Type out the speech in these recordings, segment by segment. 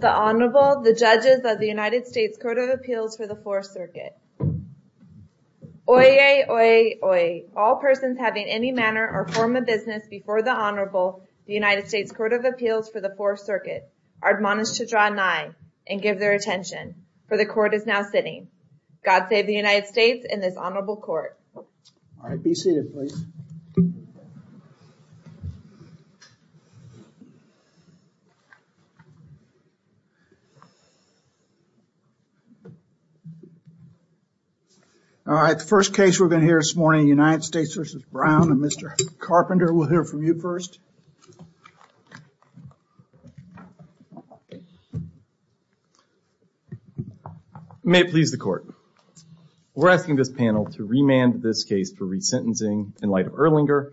The Honorable, the Judges of the United States Court of Appeals for the Fourth Circuit. Oyez! Oyez! Oyez! All persons having any manner or form of business before the Honorable, the United States Court of Appeals for the Fourth Circuit, are admonished to draw nigh and give their attention, for the Court is now sitting. God save the United States and this Honorable Court. All right, be seated, please. All right, the first case we're going to hear this morning, United States v. Brown, and Mr. Carpenter, we'll hear from you first. May it please the Court. We're asking this panel to remand this case for resentencing in light of Erlinger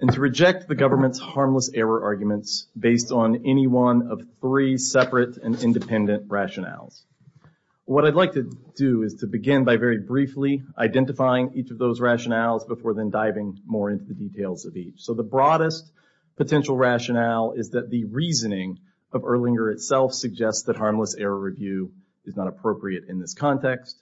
and to reject the government's harmless error arguments based on any one of three separate and independent rationales. What I'd like to do is to begin by very briefly identifying each of those rationales before then diving more into the details of So the broadest potential rationale is that the reasoning of Erlinger itself suggests that harmless error review is not appropriate in this context.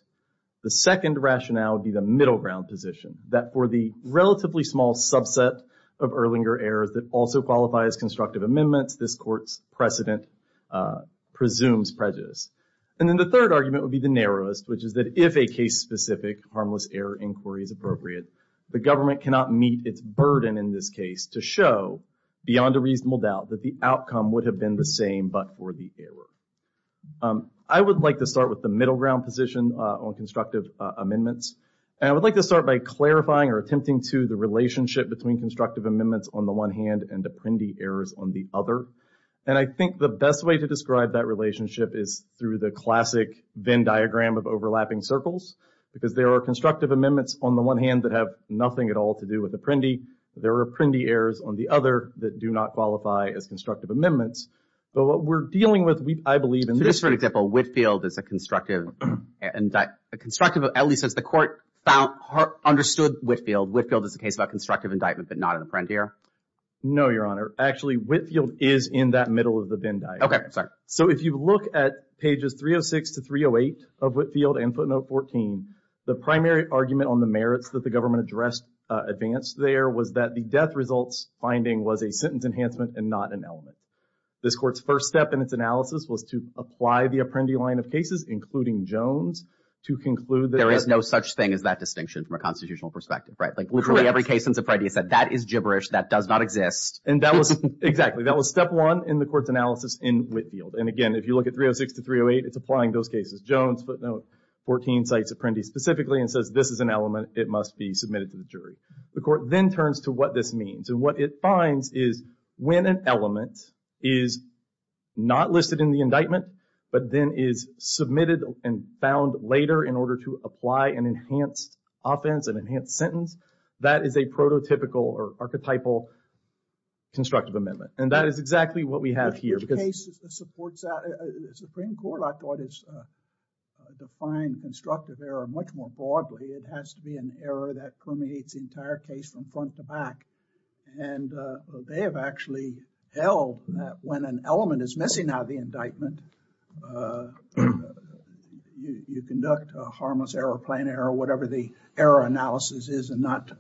The second rationale would be the middle ground position, that for the relatively small subset of Erlinger errors that also qualify as constructive amendments, this Court's precedent presumes prejudice. And then the third argument would be the narrowest, which is that if a case-specific harmless error inquiry is appropriate, the government cannot meet its burden in this case to show, beyond a reasonable doubt, that the outcome would have been the same but for the error. I would like to start with the middle ground position on constructive amendments, and I would like to start by clarifying or attempting to the relationship between constructive amendments on the one hand and apprendee errors on the other. And I think the best way to describe that relationship is through the classic Venn diagram of overlapping circles, because there are constructive amendments on the one hand that have nothing at all to do with apprendee. There are apprendee errors on the other that do not qualify as constructive amendments. But what we're dealing with, I believe, in this case... So just for an example, Whitefield is a constructive, at least as the Court understood Whitefield, Whitefield is a case about constructive indictment but not an apprendeer? No, Your Honor. Actually, Whitefield is in that middle of the Venn diagram. Okay, sorry. So if you look at pages 306 to 308 of Whitefield and footnote 14, the primary argument on the merits that the government addressed advanced there was that the death results finding was a sentence enhancement and not an element. This Court's first step in its analysis was to apply the apprendee line of cases, including Jones, to conclude that... There is no such thing as that distinction from a constitutional perspective, right? Like literally every case since Apprendi said, that is gibberish, that does not exist. Exactly. That was step one in the Court's analysis in Whitefield. And again, if you look at 306 to 308, it's applying those cases. Jones, footnote 14, cites Apprendi specifically and says, this is an element, it must be submitted to the jury. The Court then turns to what this means. And what it finds is when an element is not listed in the indictment but then is submitted and found later in order to apply an enhanced offense, an enhanced sentence, that is a prototypical or archetypal constructive amendment. And that is exactly what we have here because... The Supreme Court, I thought, has defined constructive error much more broadly. It has to be an error that permeates the entire case from front to back. And they have actually held that when an element is missing out of the indictment, you conduct a harmless error, a planned error, whatever the error analysis is and not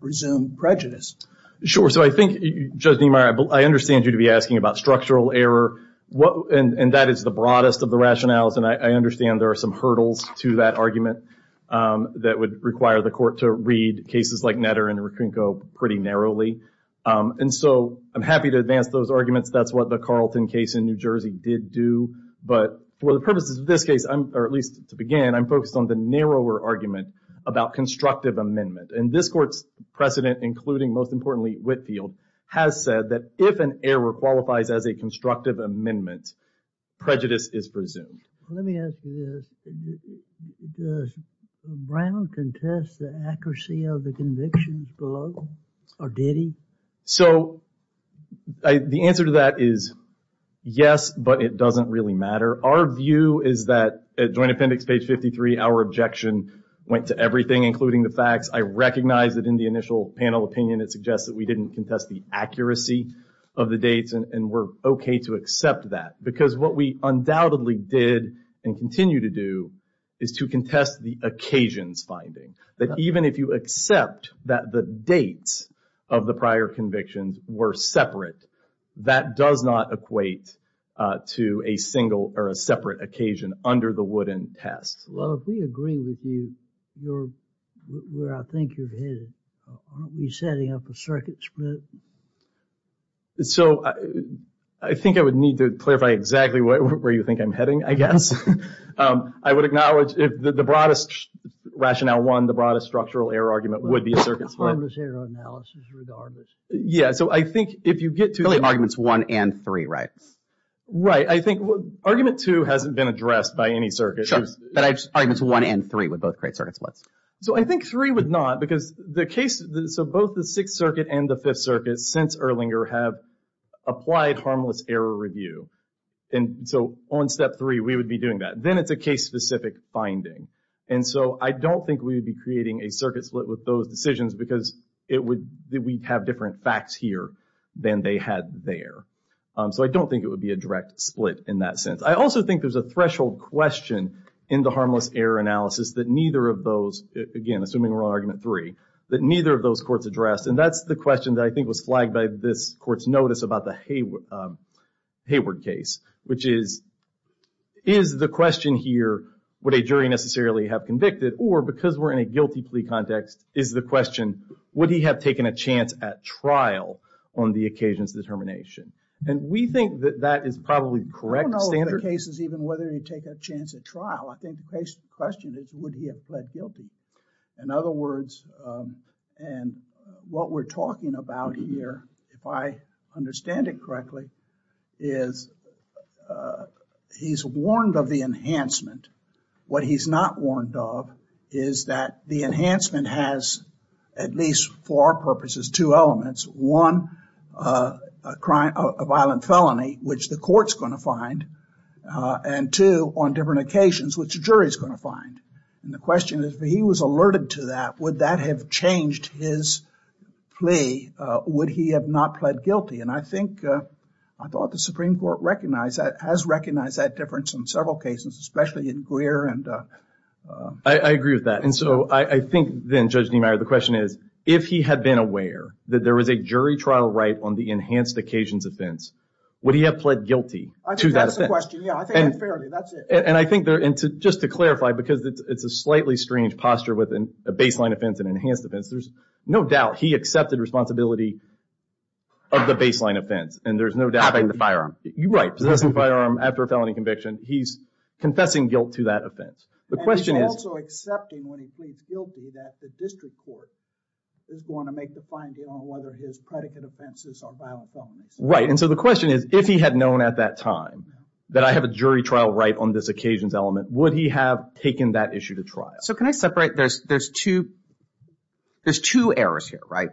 resume prejudice. Sure. So I think, Judge Niemeyer, I understand you to be asking about structural error. And that is the broadest of the rationales. And I understand there are some hurdles to that argument that would require the Court to read cases like Netter and Rotrynko pretty narrowly. And so I'm happy to advance those arguments. That's what the Carlton case in New Jersey did do. But for the purposes of this case, or at least to begin, I'm focused on the narrower argument about constructive amendment. And this Court's precedent, including, most importantly, Whitfield, has said that if an error qualifies as a constructive amendment, prejudice is presumed. Let me ask you this. Does Brown contest the accuracy of the convictions below or did he? So the answer to that is yes, but it doesn't really matter. Our view is that at Joint Appendix page 53, our objection went to everything, including the facts. I recognize that in the initial panel opinion, it suggests that we didn't contest the accuracy of the dates, and we're okay to accept that. Because what we undoubtedly did and continue to do is to contest the occasions finding. That even if you accept that the dates of the prior convictions were separate, that does not equate to a single or a separate occasion under the Wooden test. Well, if we agree with you, where I think you're headed, aren't we setting up a circuit split? So I think I would need to clarify exactly where you think I'm heading, I guess. I would acknowledge if the broadest rationale one, the broadest structural error argument would be a circuit split. Harmless error analysis regardless. Yeah, so I think if you get to- Really arguments one and three, right? Right. I think argument two hasn't been addressed by any circuit. Sure, but arguments one and three would both create circuit splits. So I think three would not because the case, so both the Sixth Circuit and the Fifth Circuit since Erlinger have applied harmless error review. And so on step three, we would be doing that. Then it's a case-specific finding. And so I don't think we would be creating a circuit split with those decisions because we'd have different facts here than they had there. So I don't think it would be a direct split in that sense. I also think there's a threshold question in the harmless error analysis that neither of those, again, assuming we're on argument three, that neither of those courts addressed. And that's the question that I think was flagged by this court's notice about the Hayward case, which is, is the question here would a jury necessarily have convicted or because we're in a guilty plea context, is the question would he have taken a chance at trial on the occasion's determination? And we think that that is probably correct standard. I don't know if the case is even whether he'd take a chance at trial. I think the question is would he have pled guilty? In other words, and what we're talking about here, if I understand it correctly, is he's warned of the enhancement. What he's not warned of is that the enhancement has, at least for our purposes, two elements. One, a violent felony, which the court's going to find. And two, on different occasions, which the jury's going to find. And the question is, if he was alerted to that, would that have changed his plea? Would he have not pled guilty? And I think, I thought the Supreme Court recognized that, has recognized that difference in several cases, especially in Greer. I agree with that. And so I think then, Judge Niemeyer, the question is, if he had been aware that there was a jury trial right on the enhanced occasion's offense, would he have pled guilty to that offense? I think that's the question. Yeah, I think that's it. And I think, just to clarify, because it's a slightly strange posture with a baseline offense and enhanced offense, there's no doubt he accepted responsibility of the baseline offense. Having the firearm. Right, possessing the firearm after a felony conviction. He's confessing guilt to that offense. And he's also accepting, when he pleads guilty, that the district court is going to make the finding on whether his predicate offenses are violent felonies. Right, and so the question is, if he had known at that time that I have a jury trial right on this occasion's element, would he have taken that issue to trial? So can I separate? There's two errors here, right?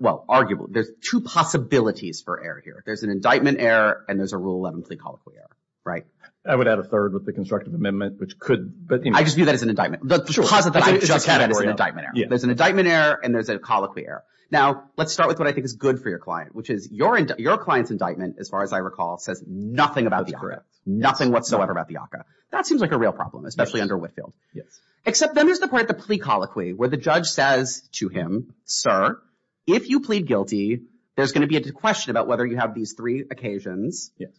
Well, arguably, there's two possibilities for error here. There's an indictment error and there's a Rule 11 plea colloquy error, right? I would add a third with the constructive amendment, which could. I just view that as an indictment. The posit that I just had is an indictment error. There's an indictment error and there's a colloquy error. Now, let's start with what I think is good for your client, which is your client's indictment, as far as I recall, says nothing about the ACCA. That's correct. Nothing whatsoever about the ACCA. That seems like a real problem, especially under Whitefield. Yes. Except then there's the point, the plea colloquy, where the judge says to him, Sir, if you plead guilty, there's going to be a question about whether you have these three occasions. Yes.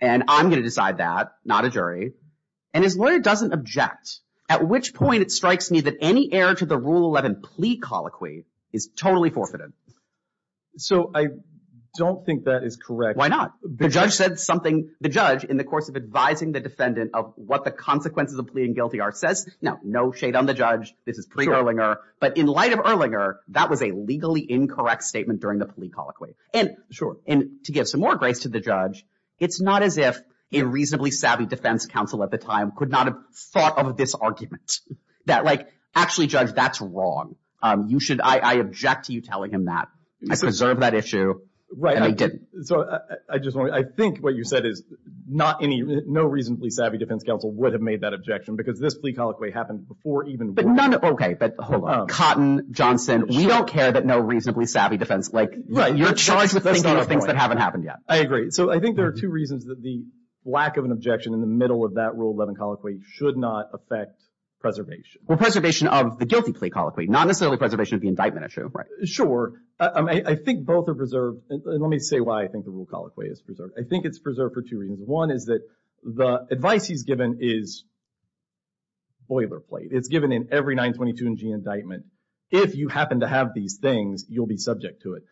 And I'm going to decide that, not a jury. And his lawyer doesn't object, at which point it strikes me that any error to the Rule 11 plea colloquy is totally forfeited. So I don't think that is correct. Why not? The judge said something. The judge, in the course of advising the defendant of what the consequences of pleading guilty are, says, no, no shade on the judge. This is pre-Erlinger. But in light of Erlinger, that was a legally incorrect statement during the plea colloquy. And to give some more grace to the judge, it's not as if a reasonably savvy defense counsel at the time could not have thought of this argument. That, like, actually, Judge, that's wrong. I object to you telling him that. I preserved that issue. And I didn't. So I just want to, I think what you said is not any, no reasonably savvy defense counsel would have made that objection because this plea colloquy happened before even Rule 11. But none, okay, but hold on. Cotton, Johnson, we don't care that no reasonably savvy defense, like, you're charged with thinking of things that haven't happened yet. I agree. So I think there are two reasons that the lack of an objection in the middle of that Rule 11 colloquy should not affect preservation. Well, preservation of the guilty plea colloquy, not necessarily preservation of the indictment issue. Sure. I think both are preserved. Let me say why I think the Rule colloquy is preserved. I think it's preserved for two reasons. One is that the advice he's given is boilerplate. It's given in every 922 and G indictment. If you happen to have these things, you'll be subject to it.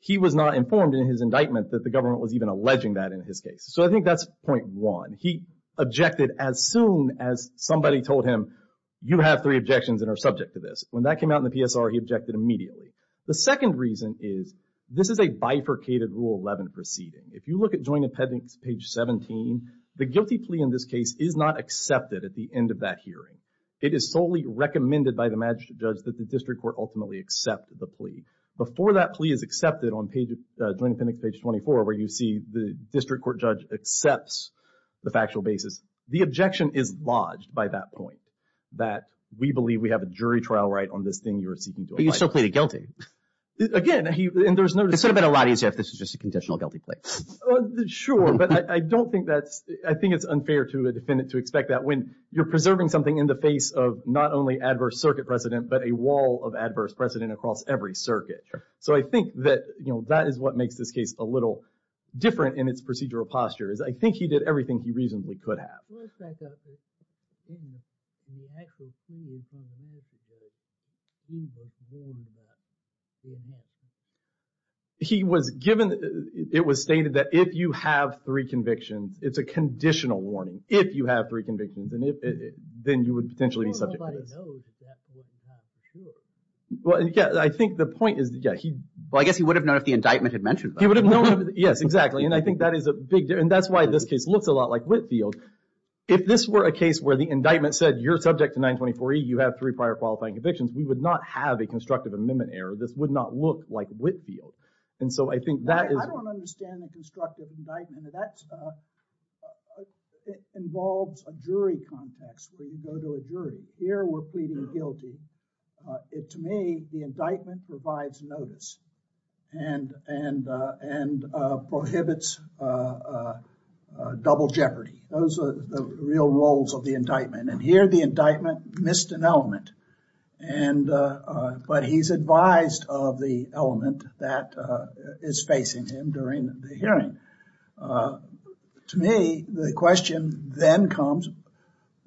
He was not informed in his indictment that the government was even alleging that in his case. So I think that's point one. He objected as soon as somebody told him, you have three objections that are subject to this. When that came out in the PSR, he objected immediately. The second reason is this is a bifurcated Rule 11 proceeding. If you look at Joint Appendix page 17, the guilty plea in this case is not accepted at the end of that hearing. It is solely recommended by the magistrate judge that the district court ultimately accept the plea. Before that plea is accepted on Joint Appendix page 24, where you see the district court judge accepts the factual basis, the objection is lodged by that point, that we believe we have a jury trial right on this thing you're seeking to apply. But you still plead guilty. Again, and there's no— It would have been a lot easier if this was just a conditional guilty plea. Sure, but I don't think that's—I think it's unfair to a defendant to expect that when you're preserving something in the face of not only adverse circuit precedent, but a wall of adverse precedent across every circuit. So I think that, you know, that is what makes this case a little different in its procedural posture, is I think he did everything he reasonably could have. Well, let's back up. In the actual plea in front of the magistrate judge, he was warned about three convictions. He was given—it was stated that if you have three convictions, it's a conditional warning if you have three convictions, and if—then you would potentially be subject to this. Well, nobody knows if that's what you have for sure. Well, yeah, I think the point is, yeah, he— Well, I guess he would have known if the indictment had mentioned that. He would have known—yes, exactly. And I think that is a big—and that's why this case looks a lot like Whitfield. If this were a case where the indictment said you're subject to 924E, you have three prior qualifying convictions, we would not have a constructive amendment error. This would not look like Whitfield. And so I think that is— I don't understand the constructive indictment. That involves a jury context where you go to a jury. Here we're pleading guilty. To me, the indictment provides notice and prohibits double jeopardy. Those are the real roles of the indictment. And here the indictment missed an element, but he's advised of the element that is facing him during the hearing. To me, the question then comes,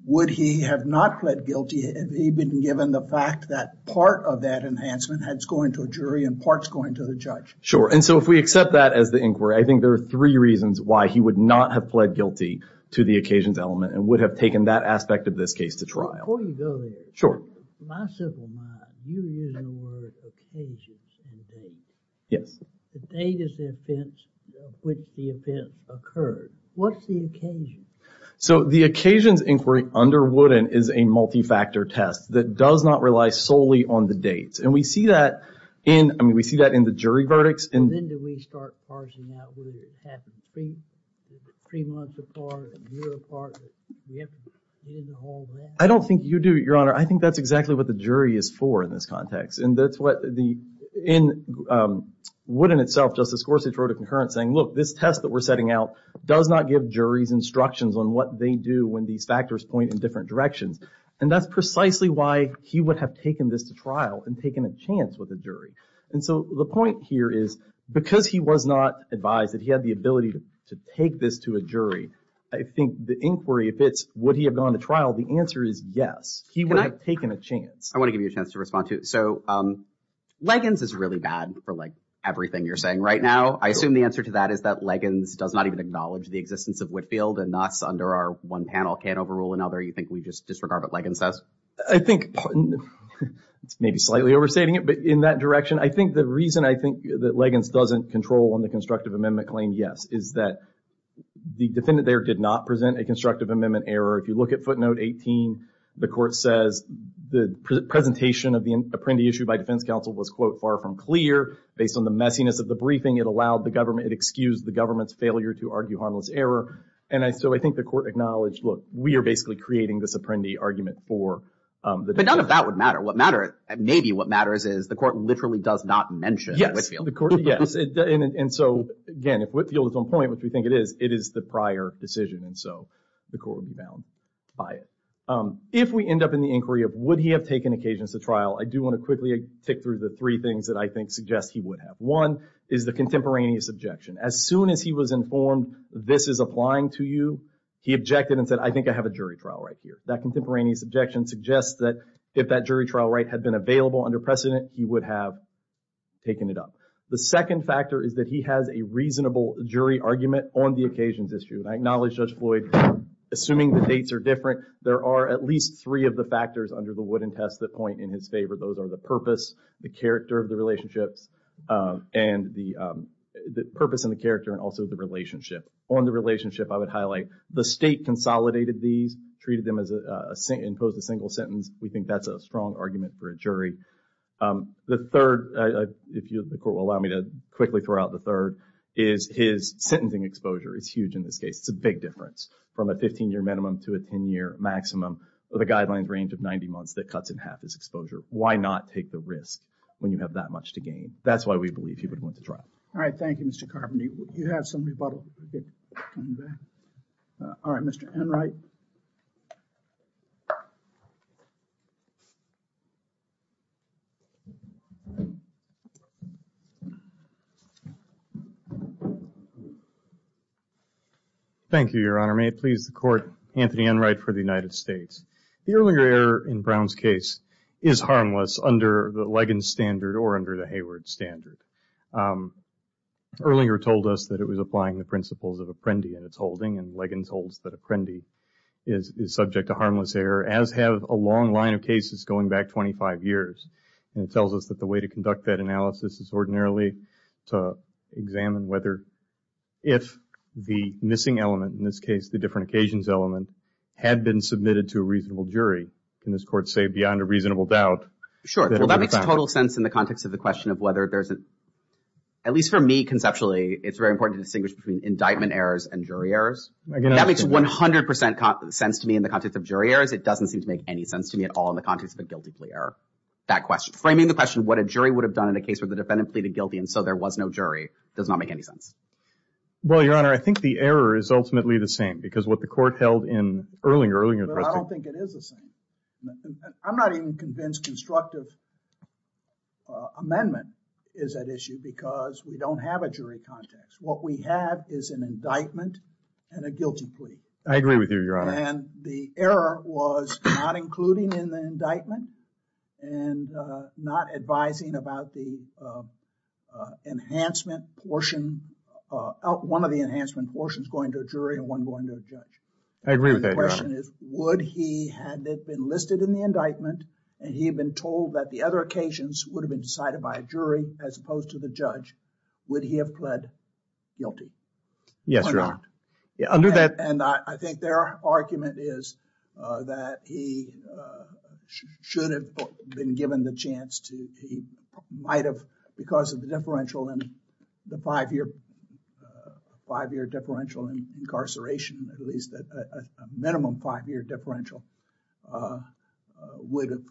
would he have not pled guilty if he'd been given the fact that part of that enhancement had to go into a jury and part's going to the judge? Sure, and so if we accept that as the inquiry, I think there are three reasons why he would not have pled guilty to the occasions element and would have taken that aspect of this case to trial. Before you go there— Sure. In my simple mind, you use the word occasions in the date. Yes. The date is the offense of which the offense occurred. What's the occasion? So the occasions inquiry under Wooden is a multi-factor test that does not rely solely on the dates. And we see that in the jury verdicts. And then do we start parsing that? Would it have to be three months apart, a year apart? Do we have to do the whole thing? I don't think you do, Your Honor. I think that's exactly what the jury is for in this context. And that's what the—in Wooden itself, Justice Gorsuch wrote a concurrence saying, look, this test that we're setting out does not give juries instructions on what they do when these factors point in different directions. And that's precisely why he would have taken this to trial and taken a chance with a jury. And so the point here is because he was not advised, that he had the ability to take this to a jury, I think the inquiry, if it's would he have gone to trial, the answer is yes. He would have taken a chance. I want to give you a chance to respond to it. So Liggins is really bad for, like, everything you're saying right now. I assume the answer to that is that Liggins does not even acknowledge the existence of Whitfield and us under our one panel can't overrule another. You think we just disregard what Liggins says? I think—maybe slightly overstating it, but in that direction, I think the reason I think that Liggins doesn't control on the constructive amendment claim, yes, is that the defendant there did not present a constructive amendment error. If you look at footnote 18, the court says the presentation of the apprendi issue by defense counsel was, quote, far from clear. Based on the messiness of the briefing, it allowed the government—it excused the government's failure to argue harmless error, and so I think the court acknowledged, look, we are basically creating this apprendi argument for the defendant. But none of that would matter. What matters—maybe what matters is the court literally does not mention Whitfield. Yes. And so, again, if Whitfield is on point, which we think it is, it is the prior decision, and so the court would be bound by it. If we end up in the inquiry of would he have taken occasions to trial, I do want to quickly tick through the three things that I think suggest he would have. One is the contemporaneous objection. As soon as he was informed this is applying to you, he objected and said, I think I have a jury trial right here. That contemporaneous objection suggests that if that jury trial right had been available under precedent, he would have taken it up. The second factor is that he has a reasonable jury argument on the occasions issue, and I acknowledge Judge Floyd, assuming the dates are different, there are at least three of the factors under the Wooden Test that point in his favor. Those are the purpose, the character of the relationships, and the purpose and the character and also the relationship. On the relationship, I would highlight the state consolidated these, treated them as—imposed a single sentence. We think that's a strong argument for a jury. The third, if the court will allow me to quickly throw out the third, is his sentencing exposure is huge in this case. It's a big difference from a 15-year minimum to a 10-year maximum. The guidelines range of 90 months that cuts in half his exposure. Why not take the risk when you have that much to gain? That's why we believe he would have went to trial. All right, thank you, Mr. Carpenter. You have some rebuttal. All right, Mr. Enright. Thank you, Your Honor. May it please the Court, Anthony Enright for the United States. The Erlinger error in Brown's case is harmless under the Leggans standard or under the Hayward standard. Erlinger told us that it was applying the principles of apprendi in its holding, and Leggans holds that apprendi is subject to harmless error, as have a long line of cases going back 25 years. And it tells us that the way to conduct that analysis is ordinarily to examine whether if the missing element, in this case the different occasions element, had been submitted to a reasonable jury. Can this Court say beyond a reasonable doubt? Sure. Well, that makes total sense in the context of the question of whether there's a, at least for me conceptually, it's very important to distinguish between indictment errors and jury errors. That makes 100% sense to me in the context of jury errors. It doesn't seem to make any sense to me at all in the context of a guilty plea error. That question, framing the question what a jury would have done in a case where the defendant pleaded guilty and so there was no jury does not make any sense. Well, Your Honor, I think the error is ultimately the same because what the Court held in early, early… I don't think it is the same. I'm not even convinced constructive amendment is at issue because we don't have a jury context. What we have is an indictment and a guilty plea. I agree with you, Your Honor. And the error was not including in the indictment and not advising about the enhancement portion, one of the enhancement portions going to a jury and one going to a judge. I agree with that, Your Honor. The question is would he had it been listed in the indictment and he had been told that the other occasions would have been decided by a jury as opposed to the judge, would he have pled guilty? Yes, Your Honor. And I think their argument is that he should have been given the chance to… he might have because of the differential in the five-year… five-year differential incarceration, at least a minimum five-year differential would have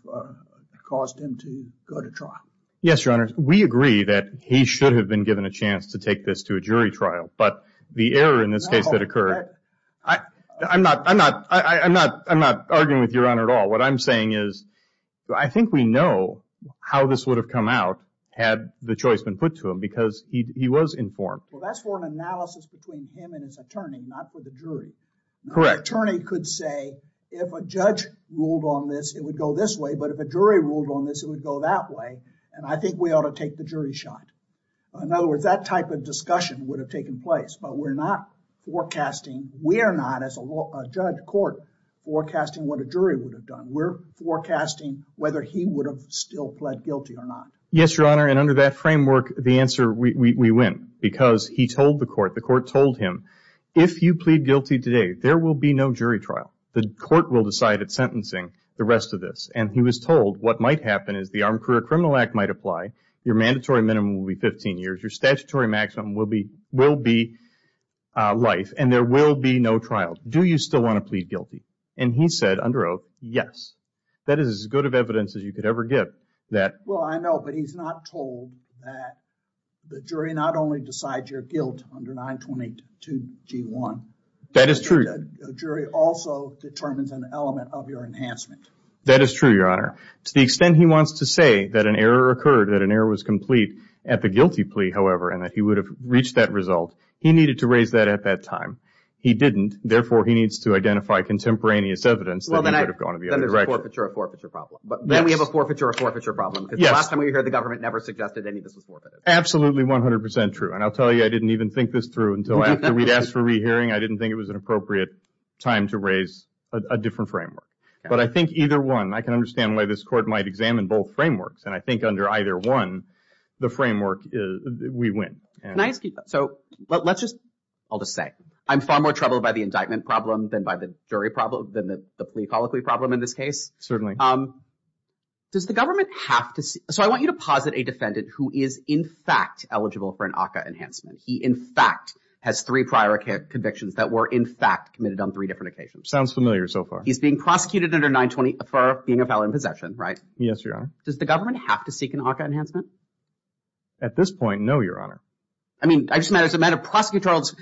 caused him to go to trial. Yes, Your Honor. We agree that he should have been given a chance to take this to a jury trial but the error in this case that occurred… I'm not arguing with Your Honor at all. What I'm saying is I think we know how this would have come out had the choice been put to him because he was informed. Well, that's for an analysis between him and his attorney, not for the jury. Correct. The attorney could say if a judge ruled on this, it would go this way, but if a jury ruled on this, it would go that way, and I think we ought to take the jury shot. In other words, that type of discussion would have taken place, but we're not forecasting. We are not, as a judge court, forecasting what a jury would have done. We're forecasting whether he would have still pled guilty or not. Yes, Your Honor, and under that framework, the answer, we win because he told the court, the court told him, if you plead guilty today, there will be no jury trial. The court will decide it's sentencing, the rest of this, and he was told what might happen is the Armed Career Criminal Act might apply, your mandatory minimum will be 15 years, your statutory maximum will be life, and there will be no trial. Do you still want to plead guilty? And he said, under oath, yes. That is as good of evidence as you could ever give that. Well, I know, but he's not told that the jury not only decides your guilt under 922G1. That is true. The jury also determines an element of your enhancement. That is true, Your Honor. To the extent he wants to say that an error occurred, that an error was complete at the guilty plea, however, and that he would have reached that result, he needed to raise that at that time. He didn't, therefore, he needs to identify contemporaneous evidence that he would have gone the other direction. Then there's a forfeiture or forfeiture problem. Then we have a forfeiture or forfeiture problem because the last time we heard the government never suggested any of this was forfeited. Absolutely 100% true, and I'll tell you, I didn't even think this through until after we'd asked for re-hearing. I didn't think it was an appropriate time to raise a different framework. But I think either one, I can understand why this court might examine both frameworks, and I think under either one, the framework, we win. Can I ask you, so let's just, I'll just say, I'm far more troubled by the indictment problem than by the jury problem, than the plea follicle problem in this case. Certainly. Does the government have to, so I want you to posit a defendant who is, in fact, eligible for an ACCA enhancement. He, in fact, has three prior convictions that were, in fact, committed on three different occasions. Sounds familiar so far. He's being prosecuted under 920 for being a felon in possession, right? Yes, Your Honor. Does the government have to seek an ACCA enhancement? At this point, no, Your Honor. I mean, I just meant, as a matter of prosecutorial,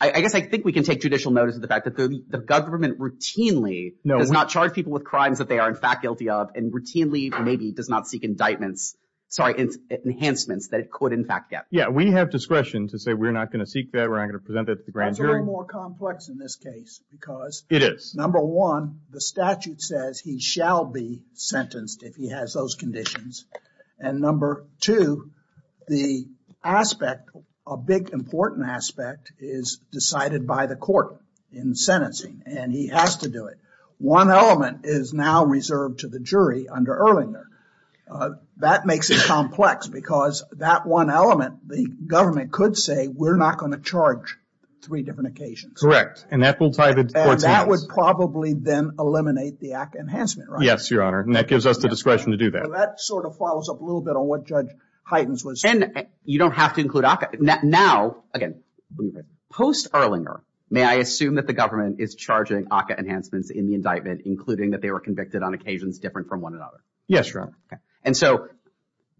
I guess I think we can take judicial notice of the fact that the government routinely does not charge people with crimes that they are, in fact, guilty of, and routinely maybe does not seek indictments, sorry, enhancements that it could, in fact, get. Yeah, we have discretion to say we're not going to seek that, we're not going to present that to the grand jury. It's a little more complex in this case because, number one, the statute says he shall be sentenced if he has those conditions, and number two, the aspect, a big important aspect, is decided by the court in sentencing, and he has to do it. One element is now reserved to the jury under Erlinger. That makes it complex because that one element, the government could say we're not going to charge three different occasions. Correct, and that will tie the courts hands. And that would probably then eliminate the ACCA enhancement, right? Yes, Your Honor, and that gives us the discretion to do that. So that sort of follows up a little bit on what Judge Heitens was saying. And you don't have to include ACCA. Now, again, post-Erlinger, may I assume that the government is charging ACCA enhancements in the indictment, including that they were convicted on occasions different from one another? Yes, Your Honor. And so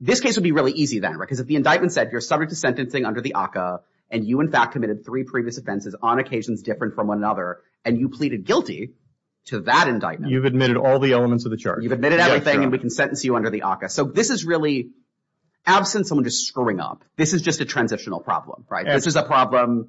this case would be really easy then, right, because if the indictment said you're subject to sentencing under the ACCA, and you, in fact, committed three previous offenses on occasions different from one another, and you pleaded guilty to that indictment. You've admitted all the elements of the charge. You've admitted everything, and we can sentence you under the ACCA. So this is really, absent someone just screwing up, this is just a transitional problem, right? This is a problem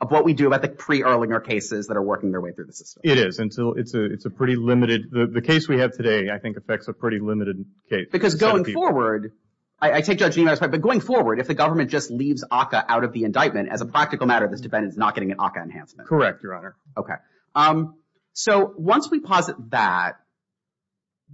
of what we do about the pre-Erlinger cases that are working their way through the system. It is, and so it's a pretty limited – the case we have today, I think, affects a pretty limited case. Because going forward – I take Judge Niemeyer's point, but going forward, if the government just leaves ACCA out of the indictment, as a practical matter, this defendant is not getting an ACCA enhancement. Correct, Your Honor. Okay. So once we posit that,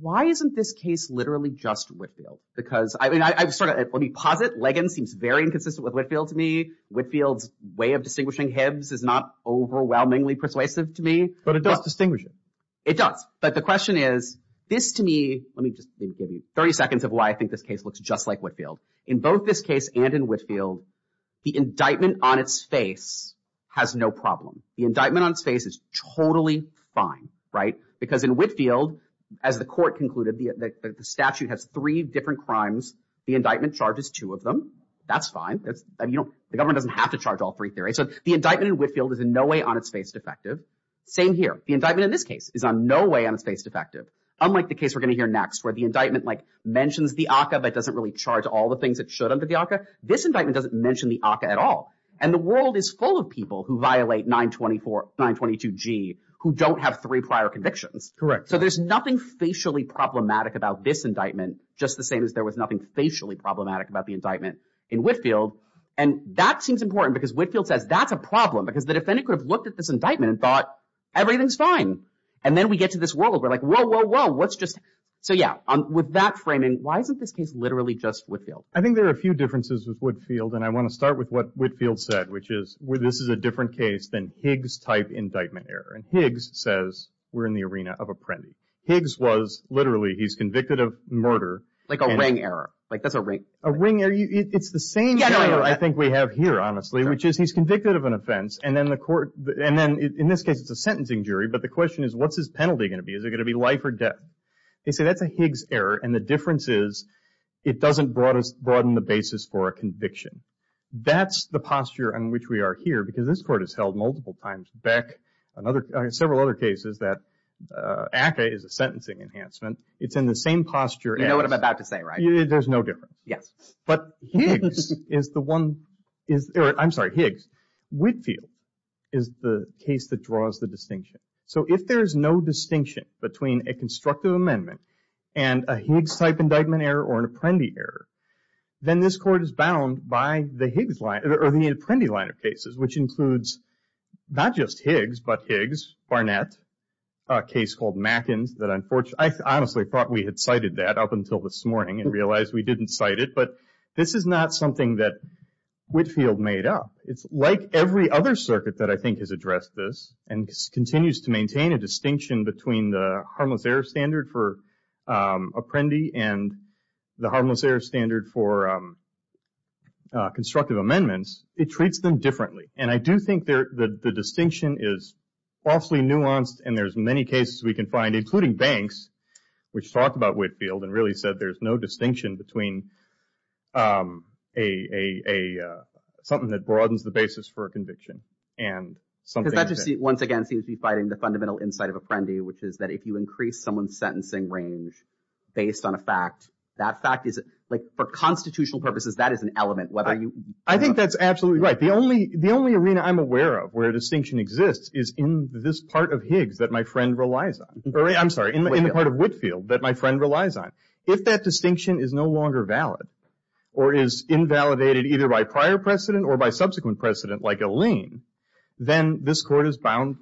why isn't this case literally just Whitfield? Because – I mean, let me posit, Leggin seems very inconsistent with Whitfield to me. Whitfield's way of distinguishing Hibbs is not overwhelmingly persuasive to me. But it does distinguish him. It does. But the question is, this to me – let me just give you 30 seconds of why I think this case looks just like Whitfield. In both this case and in Whitfield, the indictment on its face has no problem. The indictment on its face is totally fine, right? Because in Whitfield, as the court concluded, the statute has three different crimes. The indictment charges two of them. That's fine. The government doesn't have to charge all three theories. So the indictment in Whitfield is in no way on its face defective. Same here. The indictment in this case is in no way on its face defective, unlike the case we're going to hear next, where the indictment, like, mentions the ACCA, but it doesn't really charge all the things it should under the ACCA. This indictment doesn't mention the ACCA at all. And the world is full of people who violate 922G who don't have three prior convictions. Correct. So there's nothing facially problematic about this indictment, just the same as there was nothing facially problematic about the indictment in Whitfield. And that seems important because Whitfield says that's a problem because the defendant could have looked at this indictment and thought, everything's fine. And then we get to this world where, like, whoa, whoa, whoa, what's just – so, yeah. With that framing, why isn't this case literally just Whitfield? I think there are a few differences with Whitfield, and I want to start with what Whitfield said, which is this is a different case than Higgs-type indictment error. And Higgs says we're in the arena of a prendy. Higgs was literally – he's convicted of murder. Like a ring error. Like, that's a ring error. A ring error. It's the same error I think we have here, honestly, which is he's convicted of an offense, and then the court – and then in this case it's a sentencing jury, but the question is what's his penalty going to be? Is it going to be life or death? They say that's a Higgs error, and the difference is it doesn't broaden the basis for a conviction. That's the posture in which we are here, because this court has held multiple times, back in several other cases, that ACCA is a sentencing enhancement. It's in the same posture as – You know what I'm about to say, right? There's no difference. Yes. But Higgs is the one – I'm sorry, Higgs. Whitfield is the case that draws the distinction. So if there is no distinction between a constructive amendment and a Higgs-type indictment error or an Apprendi error, then this court is bound by the Higgs line – or the Apprendi line of cases, which includes not just Higgs, but Higgs, Barnett, a case called Mackins that unfortunately – I honestly thought we had cited that up until this morning and realized we didn't cite it, but this is not something that Whitfield made up. It's like every other circuit that I think has addressed this and continues to maintain a distinction between the harmless error standard for Apprendi and the harmless error standard for constructive amendments, it treats them differently. And I do think the distinction is falsely nuanced, and there's many cases we can find, including Banks, which talked about Whitfield and really said there's no distinction between something that broadens the basis for a conviction and something that – once again, seems to be fighting the fundamental insight of Apprendi, which is that if you increase someone's sentencing range based on a fact, that fact is – for constitutional purposes, that is an element, whether you – I think that's absolutely right. The only arena I'm aware of where a distinction exists is in this part of Higgs that my friend relies on – I'm sorry, in the part of Whitfield that my friend relies on. If that distinction is no longer valid or is invalidated either by prior precedent or by subsequent precedent, like a lien, then this court is bound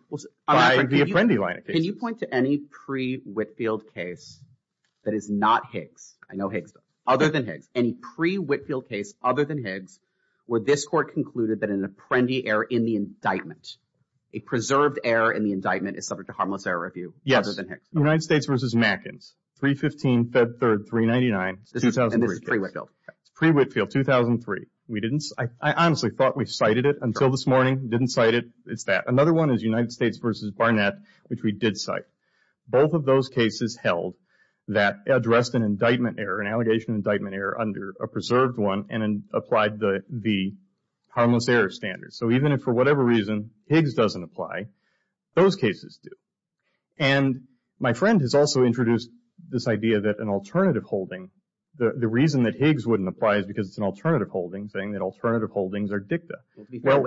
by the Apprendi line of cases. Can you point to any pre-Whitfield case that is not Higgs, I know Higgs, but other than Higgs, any pre-Whitfield case other than Higgs where this court concluded that an Apprendi error in the indictment, a preserved error in the indictment, is subject to harmless error review other than Higgs? Yes. United States v. Mackens, 315, Fed 3, 399, 2003. And this is pre-Whitfield. Pre-Whitfield, 2003. I honestly thought we cited it until this morning. Didn't cite it. It's that. Another one is United States v. Barnett, which we did cite. Both of those cases held that addressed an indictment error, an allegation indictment error under a preserved one and applied the harmless error standard. So even if for whatever reason Higgs doesn't apply, those cases do. And my friend has also introduced this idea that an alternative holding – the reason that Higgs wouldn't apply is because it's an alternative holding, saying that alternative holdings are dicta. Well,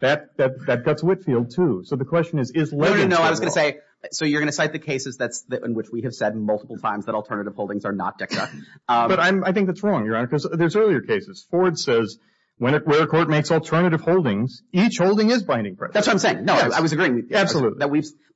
that guts Whitfield, too. So the question is, is legitimacy – No, no, no. I was going to say, so you're going to cite the cases in which we have said multiple times that alternative holdings are not dicta. But I think that's wrong, Your Honor, because there's earlier cases. Ford says where a court makes alternative holdings, each holding is binding precedent. That's what I'm saying. No, I was agreeing with you. Absolutely.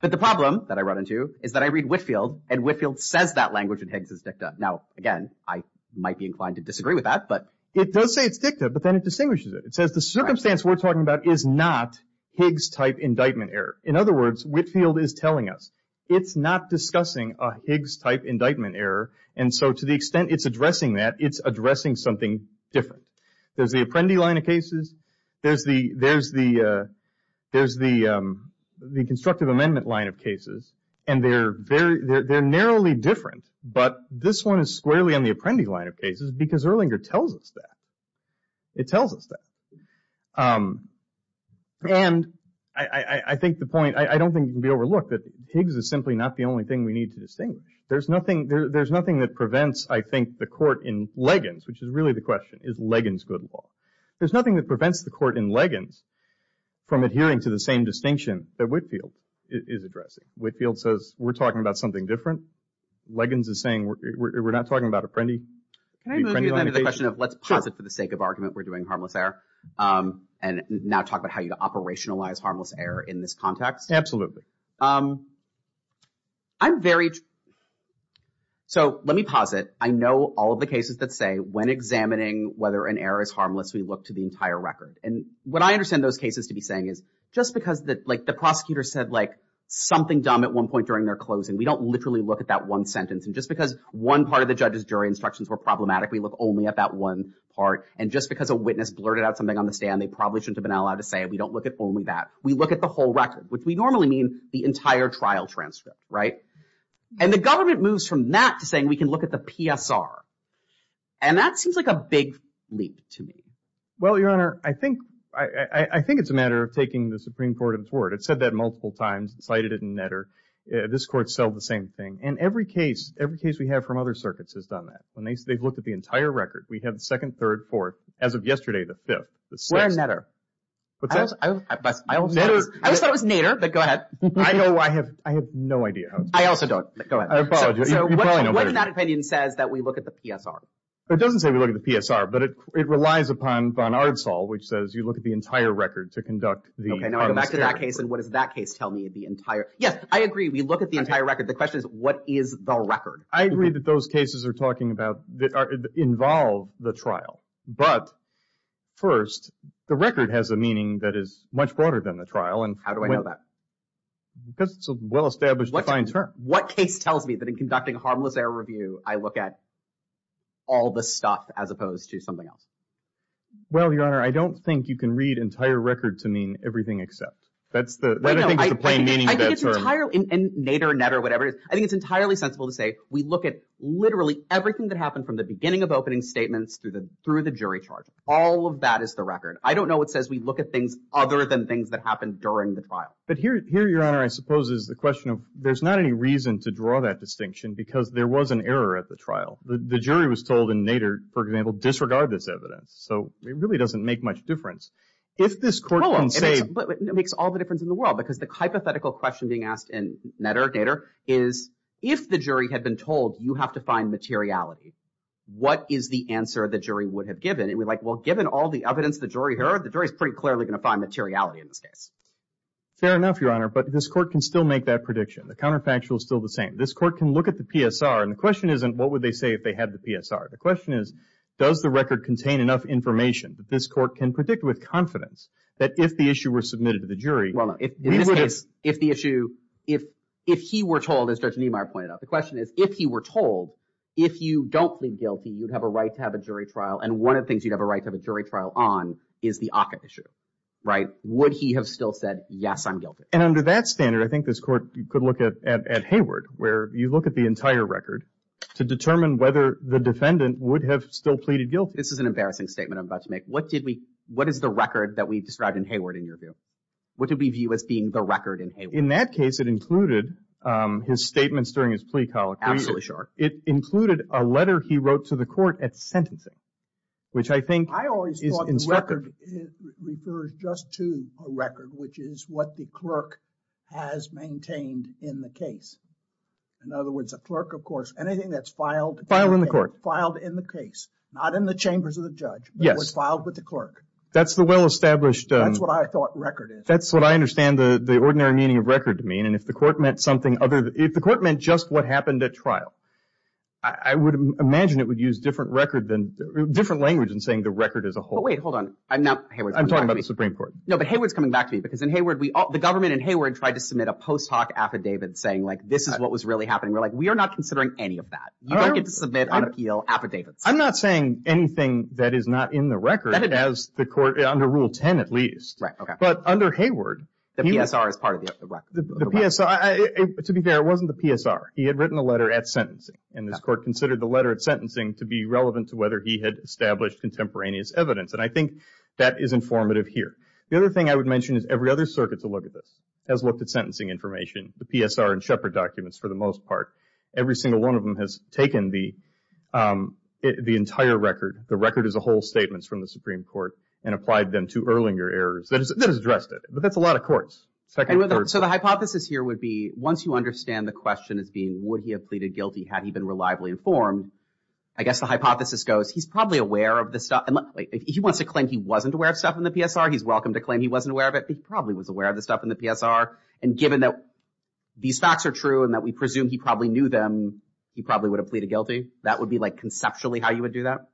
But the problem that I run into is that I read Whitfield and Whitfield says that language in Higgs is dicta. Now, again, I might be inclined to disagree with that, but – It does say it's dicta, but then it distinguishes it. It says the circumstance we're talking about is not Higgs-type indictment error. In other words, Whitfield is telling us it's not discussing a Higgs-type indictment error. And so to the extent it's addressing that, it's addressing something different. There's the Apprendi line of cases. There's the constructive amendment line of cases. And they're very – they're narrowly different. But this one is squarely on the Apprendi line of cases because Erlinger tells us that. It tells us that. And I think the point – I don't think it can be overlooked that Higgs is simply not the only thing we need to distinguish. There's nothing that prevents, I think, the court in Leggans, which is really the question, is Leggans good law? There's nothing that prevents the court in Leggans from adhering to the same distinction that Whitfield is addressing. Whitfield says we're talking about something different. Leggans is saying we're not talking about Apprendi. Can I move you then to the question of let's posit for the sake of argument we're doing harmless error and now talk about how you operationalize harmless error in this context? I'm very – so let me posit. I know all of the cases that say when examining whether an error is harmless, we look to the entire record. And what I understand those cases to be saying is just because the prosecutor said like something dumb at one point during their closing, we don't literally look at that one sentence. And just because one part of the judge's jury instructions were problematic, we look only at that one part. And just because a witness blurted out something on the stand, they probably shouldn't have been allowed to say it. We don't look at only that. We look at the whole record, which we normally mean the entire trial transcript, right? And the government moves from that to saying we can look at the PSR. And that seems like a big leap to me. Well, Your Honor, I think it's a matter of taking the Supreme Court of its word. It said that multiple times. It cited it in Netter. This court said the same thing. And every case, every case we have from other circuits has done that. They've looked at the entire record. We have the second, third, fourth. As of yesterday, the fifth, the sixth. Where in Netter? What's that? I always thought it was Nader, but go ahead. I know. I have no idea. I also don't. Go ahead. I apologize. You probably know better. What in that opinion says that we look at the PSR? It doesn't say we look at the PSR, but it relies upon von Ardsal, which says you look at the entire record to conduct the We go back to that case. And what does that case tell me of the entire? Yes, I agree. We look at the entire record. The question is, what is the record? I agree that those cases are talking about, involve the trial. But first, the record has a meaning that is much broader than the trial. How do I know that? Because it's a well-established, defined term. What case tells me that in conducting harmless error review, I look at all the stuff as opposed to something else? Well, Your Honor, I don't think you can read entire record to mean everything except. That's the plain meaning of that term. I think it's entirely, and nadir, net or whatever, I think it's entirely sensible to say we look at literally everything that happened from the beginning of opening statements through the jury charge. All of that is the record. I don't know what says we look at things other than things that happened during the trial. But here, Your Honor, I suppose is the question of there's not any reason to draw that distinction because there was an error at the trial. The jury was told in nadir, for example, disregard this evidence. So it really doesn't make much difference. If this court can say… It makes all the difference in the world because the hypothetical question being asked in nadir is if the jury had been told you have to find materiality, what is the answer the jury would have given? It would be like, well, given all the evidence the jury heard, the jury is pretty clearly going to find materiality in this case. Fair enough, Your Honor. But this court can still make that prediction. The counterfactual is still the same. This court can look at the PSR. And the question isn't what would they say if they had the PSR. The question is does the record contain enough information that this court can predict with confidence that if the issue were submitted to the jury… Well, no. In this case, if the issue… If he were told, as Judge Niemeyer pointed out, the question is if he were told if you don't plead guilty, you'd have a right to have a jury trial. And one of the things you'd have a right to have a jury trial on is the ACCA issue, right? Would he have still said, yes, I'm guilty? And under that standard, I think this court could look at Hayward, where you look at the entire record to determine whether the defendant would have still pleaded guilty. This is an embarrassing statement I'm about to make. What is the record that we described in Hayward in your view? What do we view as being the record in Hayward? In that case, it included his statements during his plea colloquy. Absolutely sure. It included a letter he wrote to the court at sentencing, which I think is instructive. I always thought the record refers just to a record, which is what the clerk has maintained in the case. In other words, a clerk, of course, anything that's filed. Filed in the court. Filed in the case. Not in the chambers of the judge, but was filed with the clerk. That's the well-established. That's what I thought record is. That's what I understand the ordinary meaning of record to mean. And if the court meant something other than – if the court meant just what happened at trial, I would imagine it would use different record than – different language in saying the record as a whole. But wait, hold on. I'm not – Hayward's coming back to me. I'm talking about the Supreme Court. No, but Hayward's coming back to me because in Hayward, the government in Hayward tried to submit a post hoc affidavit saying, like, this is what was really happening. We're like, we are not considering any of that. You don't get to submit an appeal affidavit. I'm not saying anything that is not in the record as the court – under Rule 10 at least. Right, okay. But under Hayward – The PSR is part of the record. The PSR – to be fair, it wasn't the PSR. He had written a letter at sentencing. And this court considered the letter at sentencing to be relevant to whether he had established contemporaneous evidence. And I think that is informative here. The other thing I would mention is every other circuit to look at this has looked at sentencing information. The PSR and Shepard documents for the most part. Every single one of them has taken the entire record, the record as a whole statements from the Supreme Court, and applied them to Erlinger errors. That has addressed it. But that's a lot of courts. So the hypothesis here would be once you understand the question as being would he have pleaded guilty had he been reliably informed, I guess the hypothesis goes he's probably aware of the stuff. He wants to claim he wasn't aware of stuff in the PSR. He's welcome to claim he wasn't aware of it, but he probably was aware of the stuff in the PSR. And given that these facts are true and that we presume he probably knew them, he probably would have pleaded guilty. That would be like conceptually how you would do that?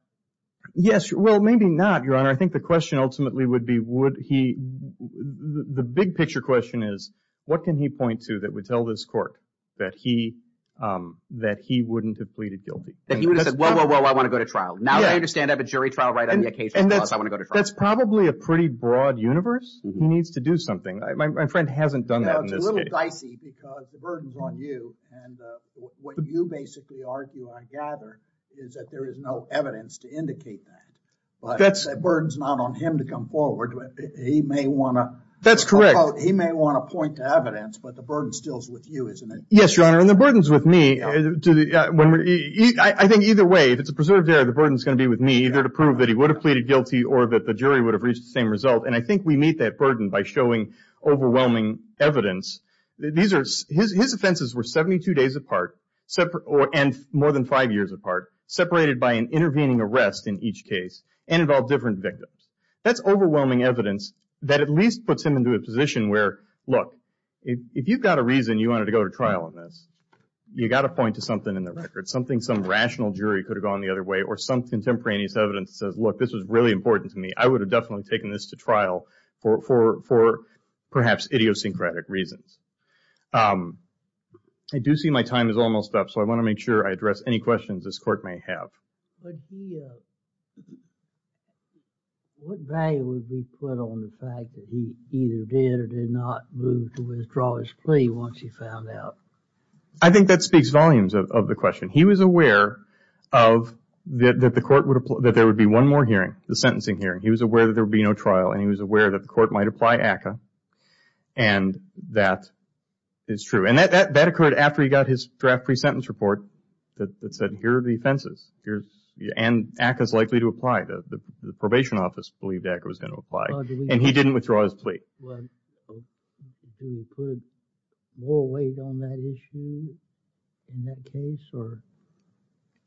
Well, maybe not, Your Honor. I think the question ultimately would be would he – the big picture question is what can he point to that would tell this court that he wouldn't have pleaded guilty? That he would have said, whoa, whoa, whoa, I want to go to trial. Now that I understand I have a jury trial right on the occasion, I want to go to trial. That's probably a pretty broad universe. He needs to do something. My friend hasn't done that in this case. It's a little dicey because the burden's on you. And what you basically argue, I gather, is that there is no evidence to indicate that. But the burden's not on him to come forward. He may want to – That's correct. He may want to point to evidence, but the burden still is with you, isn't it? Yes, Your Honor, and the burden's with me. I think either way, if it's a preserved error, the burden's going to be with me either to prove that he would have pleaded guilty or that the jury would have reached the same result. And I think we meet that burden by showing overwhelming evidence. His offenses were 72 days apart and more than five years apart, separated by an intervening arrest in each case and involved different victims. That's overwhelming evidence that at least puts him into a position where, look, if you've got a reason you wanted to go to trial on this, you've got to point to something in the record, something some rational jury could have gone the other way or some contemporaneous evidence that says, look, this was really important to me. I would have definitely taken this to trial for perhaps idiosyncratic reasons. I do see my time is almost up, so I want to make sure I address any questions this Court may have. But what value would be put on the fact that he either did or did not move to withdraw his plea once he found out? I think that speaks volumes of the question. He was aware that there would be one more hearing, the sentencing hearing. He was aware that there would be no trial, and he was aware that the Court might apply ACCA, and that is true. And that occurred after he got his draft pre-sentence report that said, here are the offenses, and ACCA is likely to apply. The probation office believed ACCA was going to apply, and he didn't withdraw his plea. Did he put more weight on that issue in that case?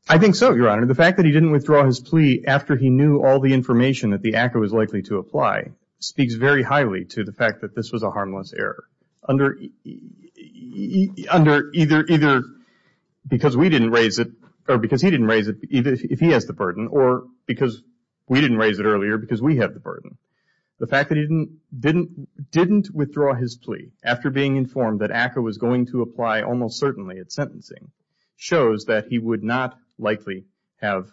I think so, Your Honor. The fact that he didn't withdraw his plea after he knew all the information that the ACCA was likely to apply speaks very highly to the fact that this was a harmless error. Under either because we didn't raise it, or because he didn't raise it, if he has the burden, or because we didn't raise it earlier because we have the burden. The fact that he didn't withdraw his plea after being informed that ACCA was going to apply, almost certainly at sentencing, shows that he would not likely have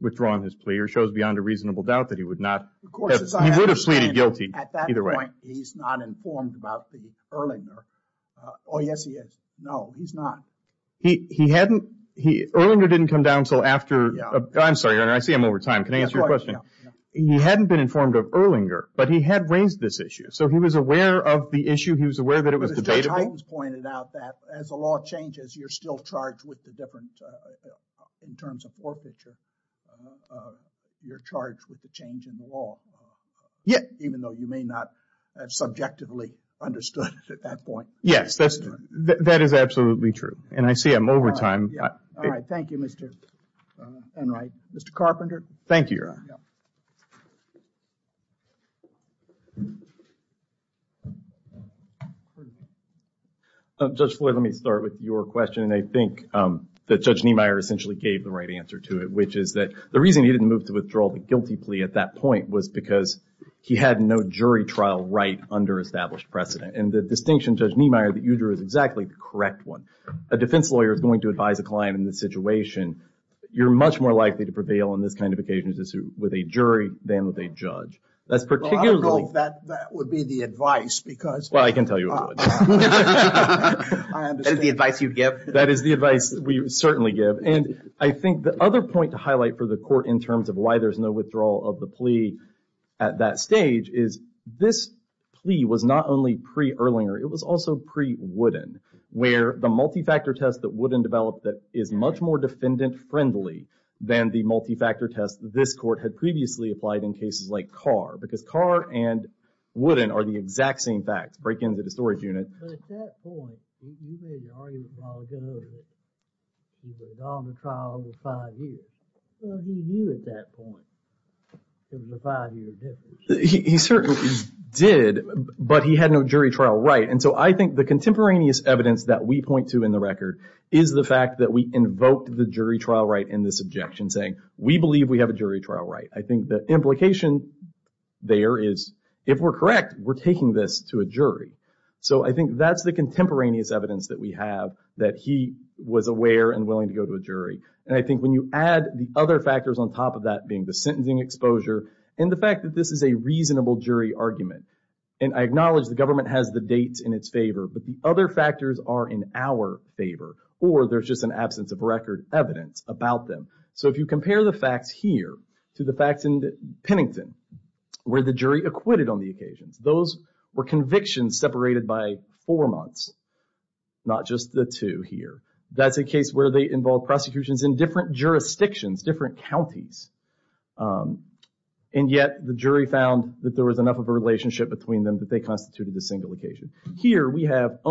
withdrawn his plea, or shows beyond a reasonable doubt that he would not have. He would have pleaded guilty either way. At that point, he's not informed about the Erlinger. Oh, yes, he is. No, he's not. Erlinger didn't come down until after. I'm sorry, Your Honor. I see I'm over time. Can I answer your question? He hadn't been informed of Erlinger, but he had raised this issue. So he was aware of the issue. He was aware that it was debatable. Mr. Highton's pointed out that as the law changes, you're still charged with the different, in terms of forfeiture, you're charged with the change in the law. Yes. Even though you may not have subjectively understood it at that point. Yes, that is absolutely true, and I see I'm over time. All right, thank you, Mr. Enright. Mr. Carpenter. Thank you, Your Honor. Judge Floyd, let me start with your question. And I think that Judge Niemeyer essentially gave the right answer to it, which is that the reason he didn't move to withdraw the guilty plea at that point was because he had no jury trial right under established precedent. And the distinction, Judge Niemeyer, that you drew is exactly the correct one. A defense lawyer is going to advise a client in this situation. You're much more likely to prevail in this kind of occasion with a jury than with a judge. I don't know if that would be the advice. Well, I can tell you it wouldn't. That is the advice you'd give? That is the advice we certainly give. And I think the other point to highlight for the court in terms of why there's no withdrawal of the plea at that stage is this plea was not only pre-Erlinger, it was also pre-Wooden, where the multi-factor test that Wooden developed that is much more defendant-friendly than the multi-factor test this court had previously applied in cases like Carr. Because Carr and Wooden are the exact same facts, break into the storage unit. He certainly did, but he had no jury trial right. And so I think the contemporaneous evidence that we point to in the record is the fact that we invoked the jury trial right in this objection, saying we believe we have a jury trial right. I think the implication there is if we're correct, we're taking this to a jury. So I think that's the contemporaneous evidence that we have, that he was aware and willing to go to a jury. And I think when you add the other factors on top of that, being the sentencing exposure and the fact that this is a reasonable jury argument, and I acknowledge the government has the dates in its favor, but the other factors are in our favor, or there's just an absence of record evidence about them. So if you compare the facts here to the facts in Pennington, where the jury acquitted on the occasions, those were convictions separated by four months, not just the two here. That's a case where they involved prosecutions in different jurisdictions, different counties. And yet the jury found that there was enough of a relationship between them that they constituted a single occasion. Here we have a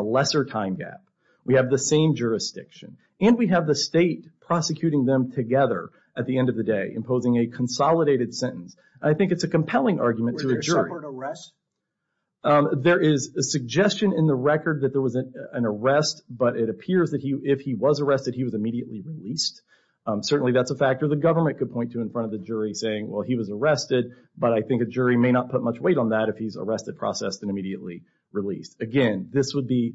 lesser time gap. We have the same jurisdiction. And we have the state prosecuting them together at the end of the day, imposing a consolidated sentence. I think it's a compelling argument to a jury. There is a suggestion in the record that there was an arrest, but it appears that if he was arrested, he was immediately released. Certainly that's a factor the government could point to in front of the jury saying, well, he was arrested, but I think a jury may not put much weight on that if he's arrested, processed, and immediately released. Again, this would be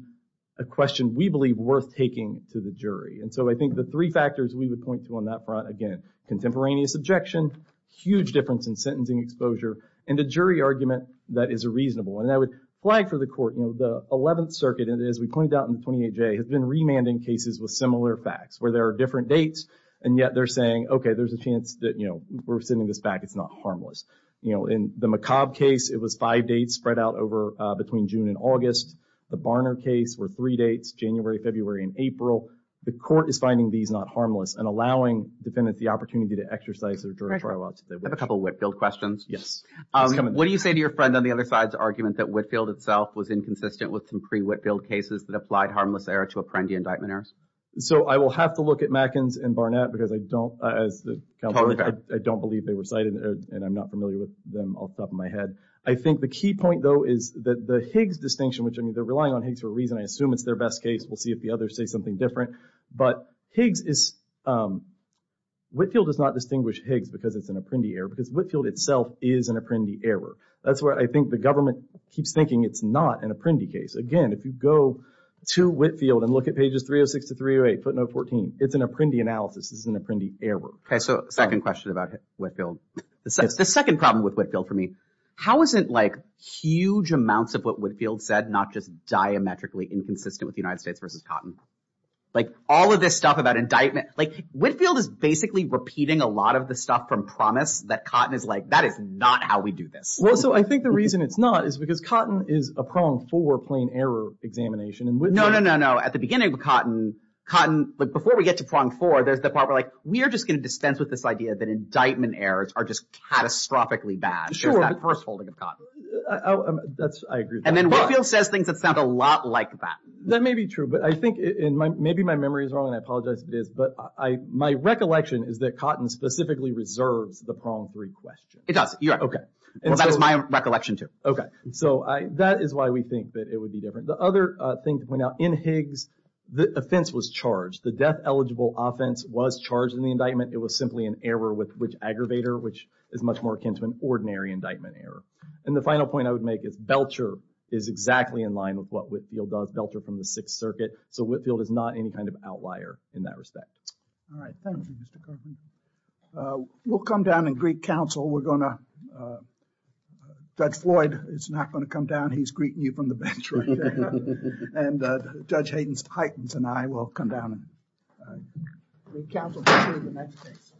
a question we believe worth taking to the jury. And so I think the three factors we would point to on that front, again, contemporaneous objection, huge difference in sentencing exposure, and a jury argument that is reasonable. And I would flag for the court, you know, the 11th Circuit, as we pointed out in the 28J, has been remanding cases with similar facts, where there are different dates, and yet they're saying, okay, there's a chance that, you know, we're sending this back. It's not harmless. You know, in the McCobb case, it was five dates spread out over between June and August. The Barner case were three dates, January, February, and April. The court is finding these not harmless and allowing defendants the opportunity to exercise their jury trial options. I have a couple of Whitfield questions. Yes. What do you say to your friend on the other side's argument that Whitfield itself was inconsistent with some pre-Whitfield cases that applied harmless error to Apprendi indictment errors? So I will have to look at Matkins and Barnett because I don't, as a counselor, I don't believe they were cited, and I'm not familiar with them off the top of my head. I think the key point, though, is that the Higgs distinction, which, I mean, they're relying on Higgs for a reason. I assume it's their best case. We'll see if the others say something different. But Higgs is... Whitfield does not distinguish Higgs because it's an Apprendi error because Whitfield itself is an Apprendi error. That's where I think the government keeps thinking it's not an Apprendi case. Again, if you go to Whitfield and look at pages 306 to 308, footnote 14, it's an Apprendi analysis. This is an Apprendi error. Okay, so second question about Whitfield. The second problem with Whitfield for me, how is it, like, huge amounts of what Whitfield said not just diametrically inconsistent with the United States versus Cotton? Like, all of this stuff about indictment. Like, Whitfield is basically repeating a lot of the stuff from Promise that Cotton is like, that is not how we do this. Well, so I think the reason it's not is because Cotton is a pronged four-plane error examination. No, no, no, no. At the beginning of Cotton, Cotton, like, before we get to pronged four, there's the part where, like, we are just going to dispense with this idea that indictment errors are just catastrophically bad. There's that first holding of Cotton. I agree with that. And then Whitfield says things that sound a lot like that. That may be true, but I think, and maybe my memory is wrong, and I apologize if it is, but my recollection is that Cotton specifically reserves the pronged three question. It does. Okay. Well, that was my recollection, too. Okay. So that is why we think that it would be different. The other thing to point out, in Higgs, the offense was charged. The death-eligible offense was charged in the indictment. It was simply an error with which aggravator, which is much more akin to an ordinary indictment error. And the final point I would make is Belcher is exactly in line with what Whitfield does. Belcher from the Sixth Circuit. So Whitfield is not any kind of outlier in that respect. All right. Thank you, Mr. Cotton. We'll come down and greet counsel. We're going to, Judge Floyd is not going to come down. He's greeting you from the bench right now. And Judge Hayden's Titans and I will come down with counsel in the next case.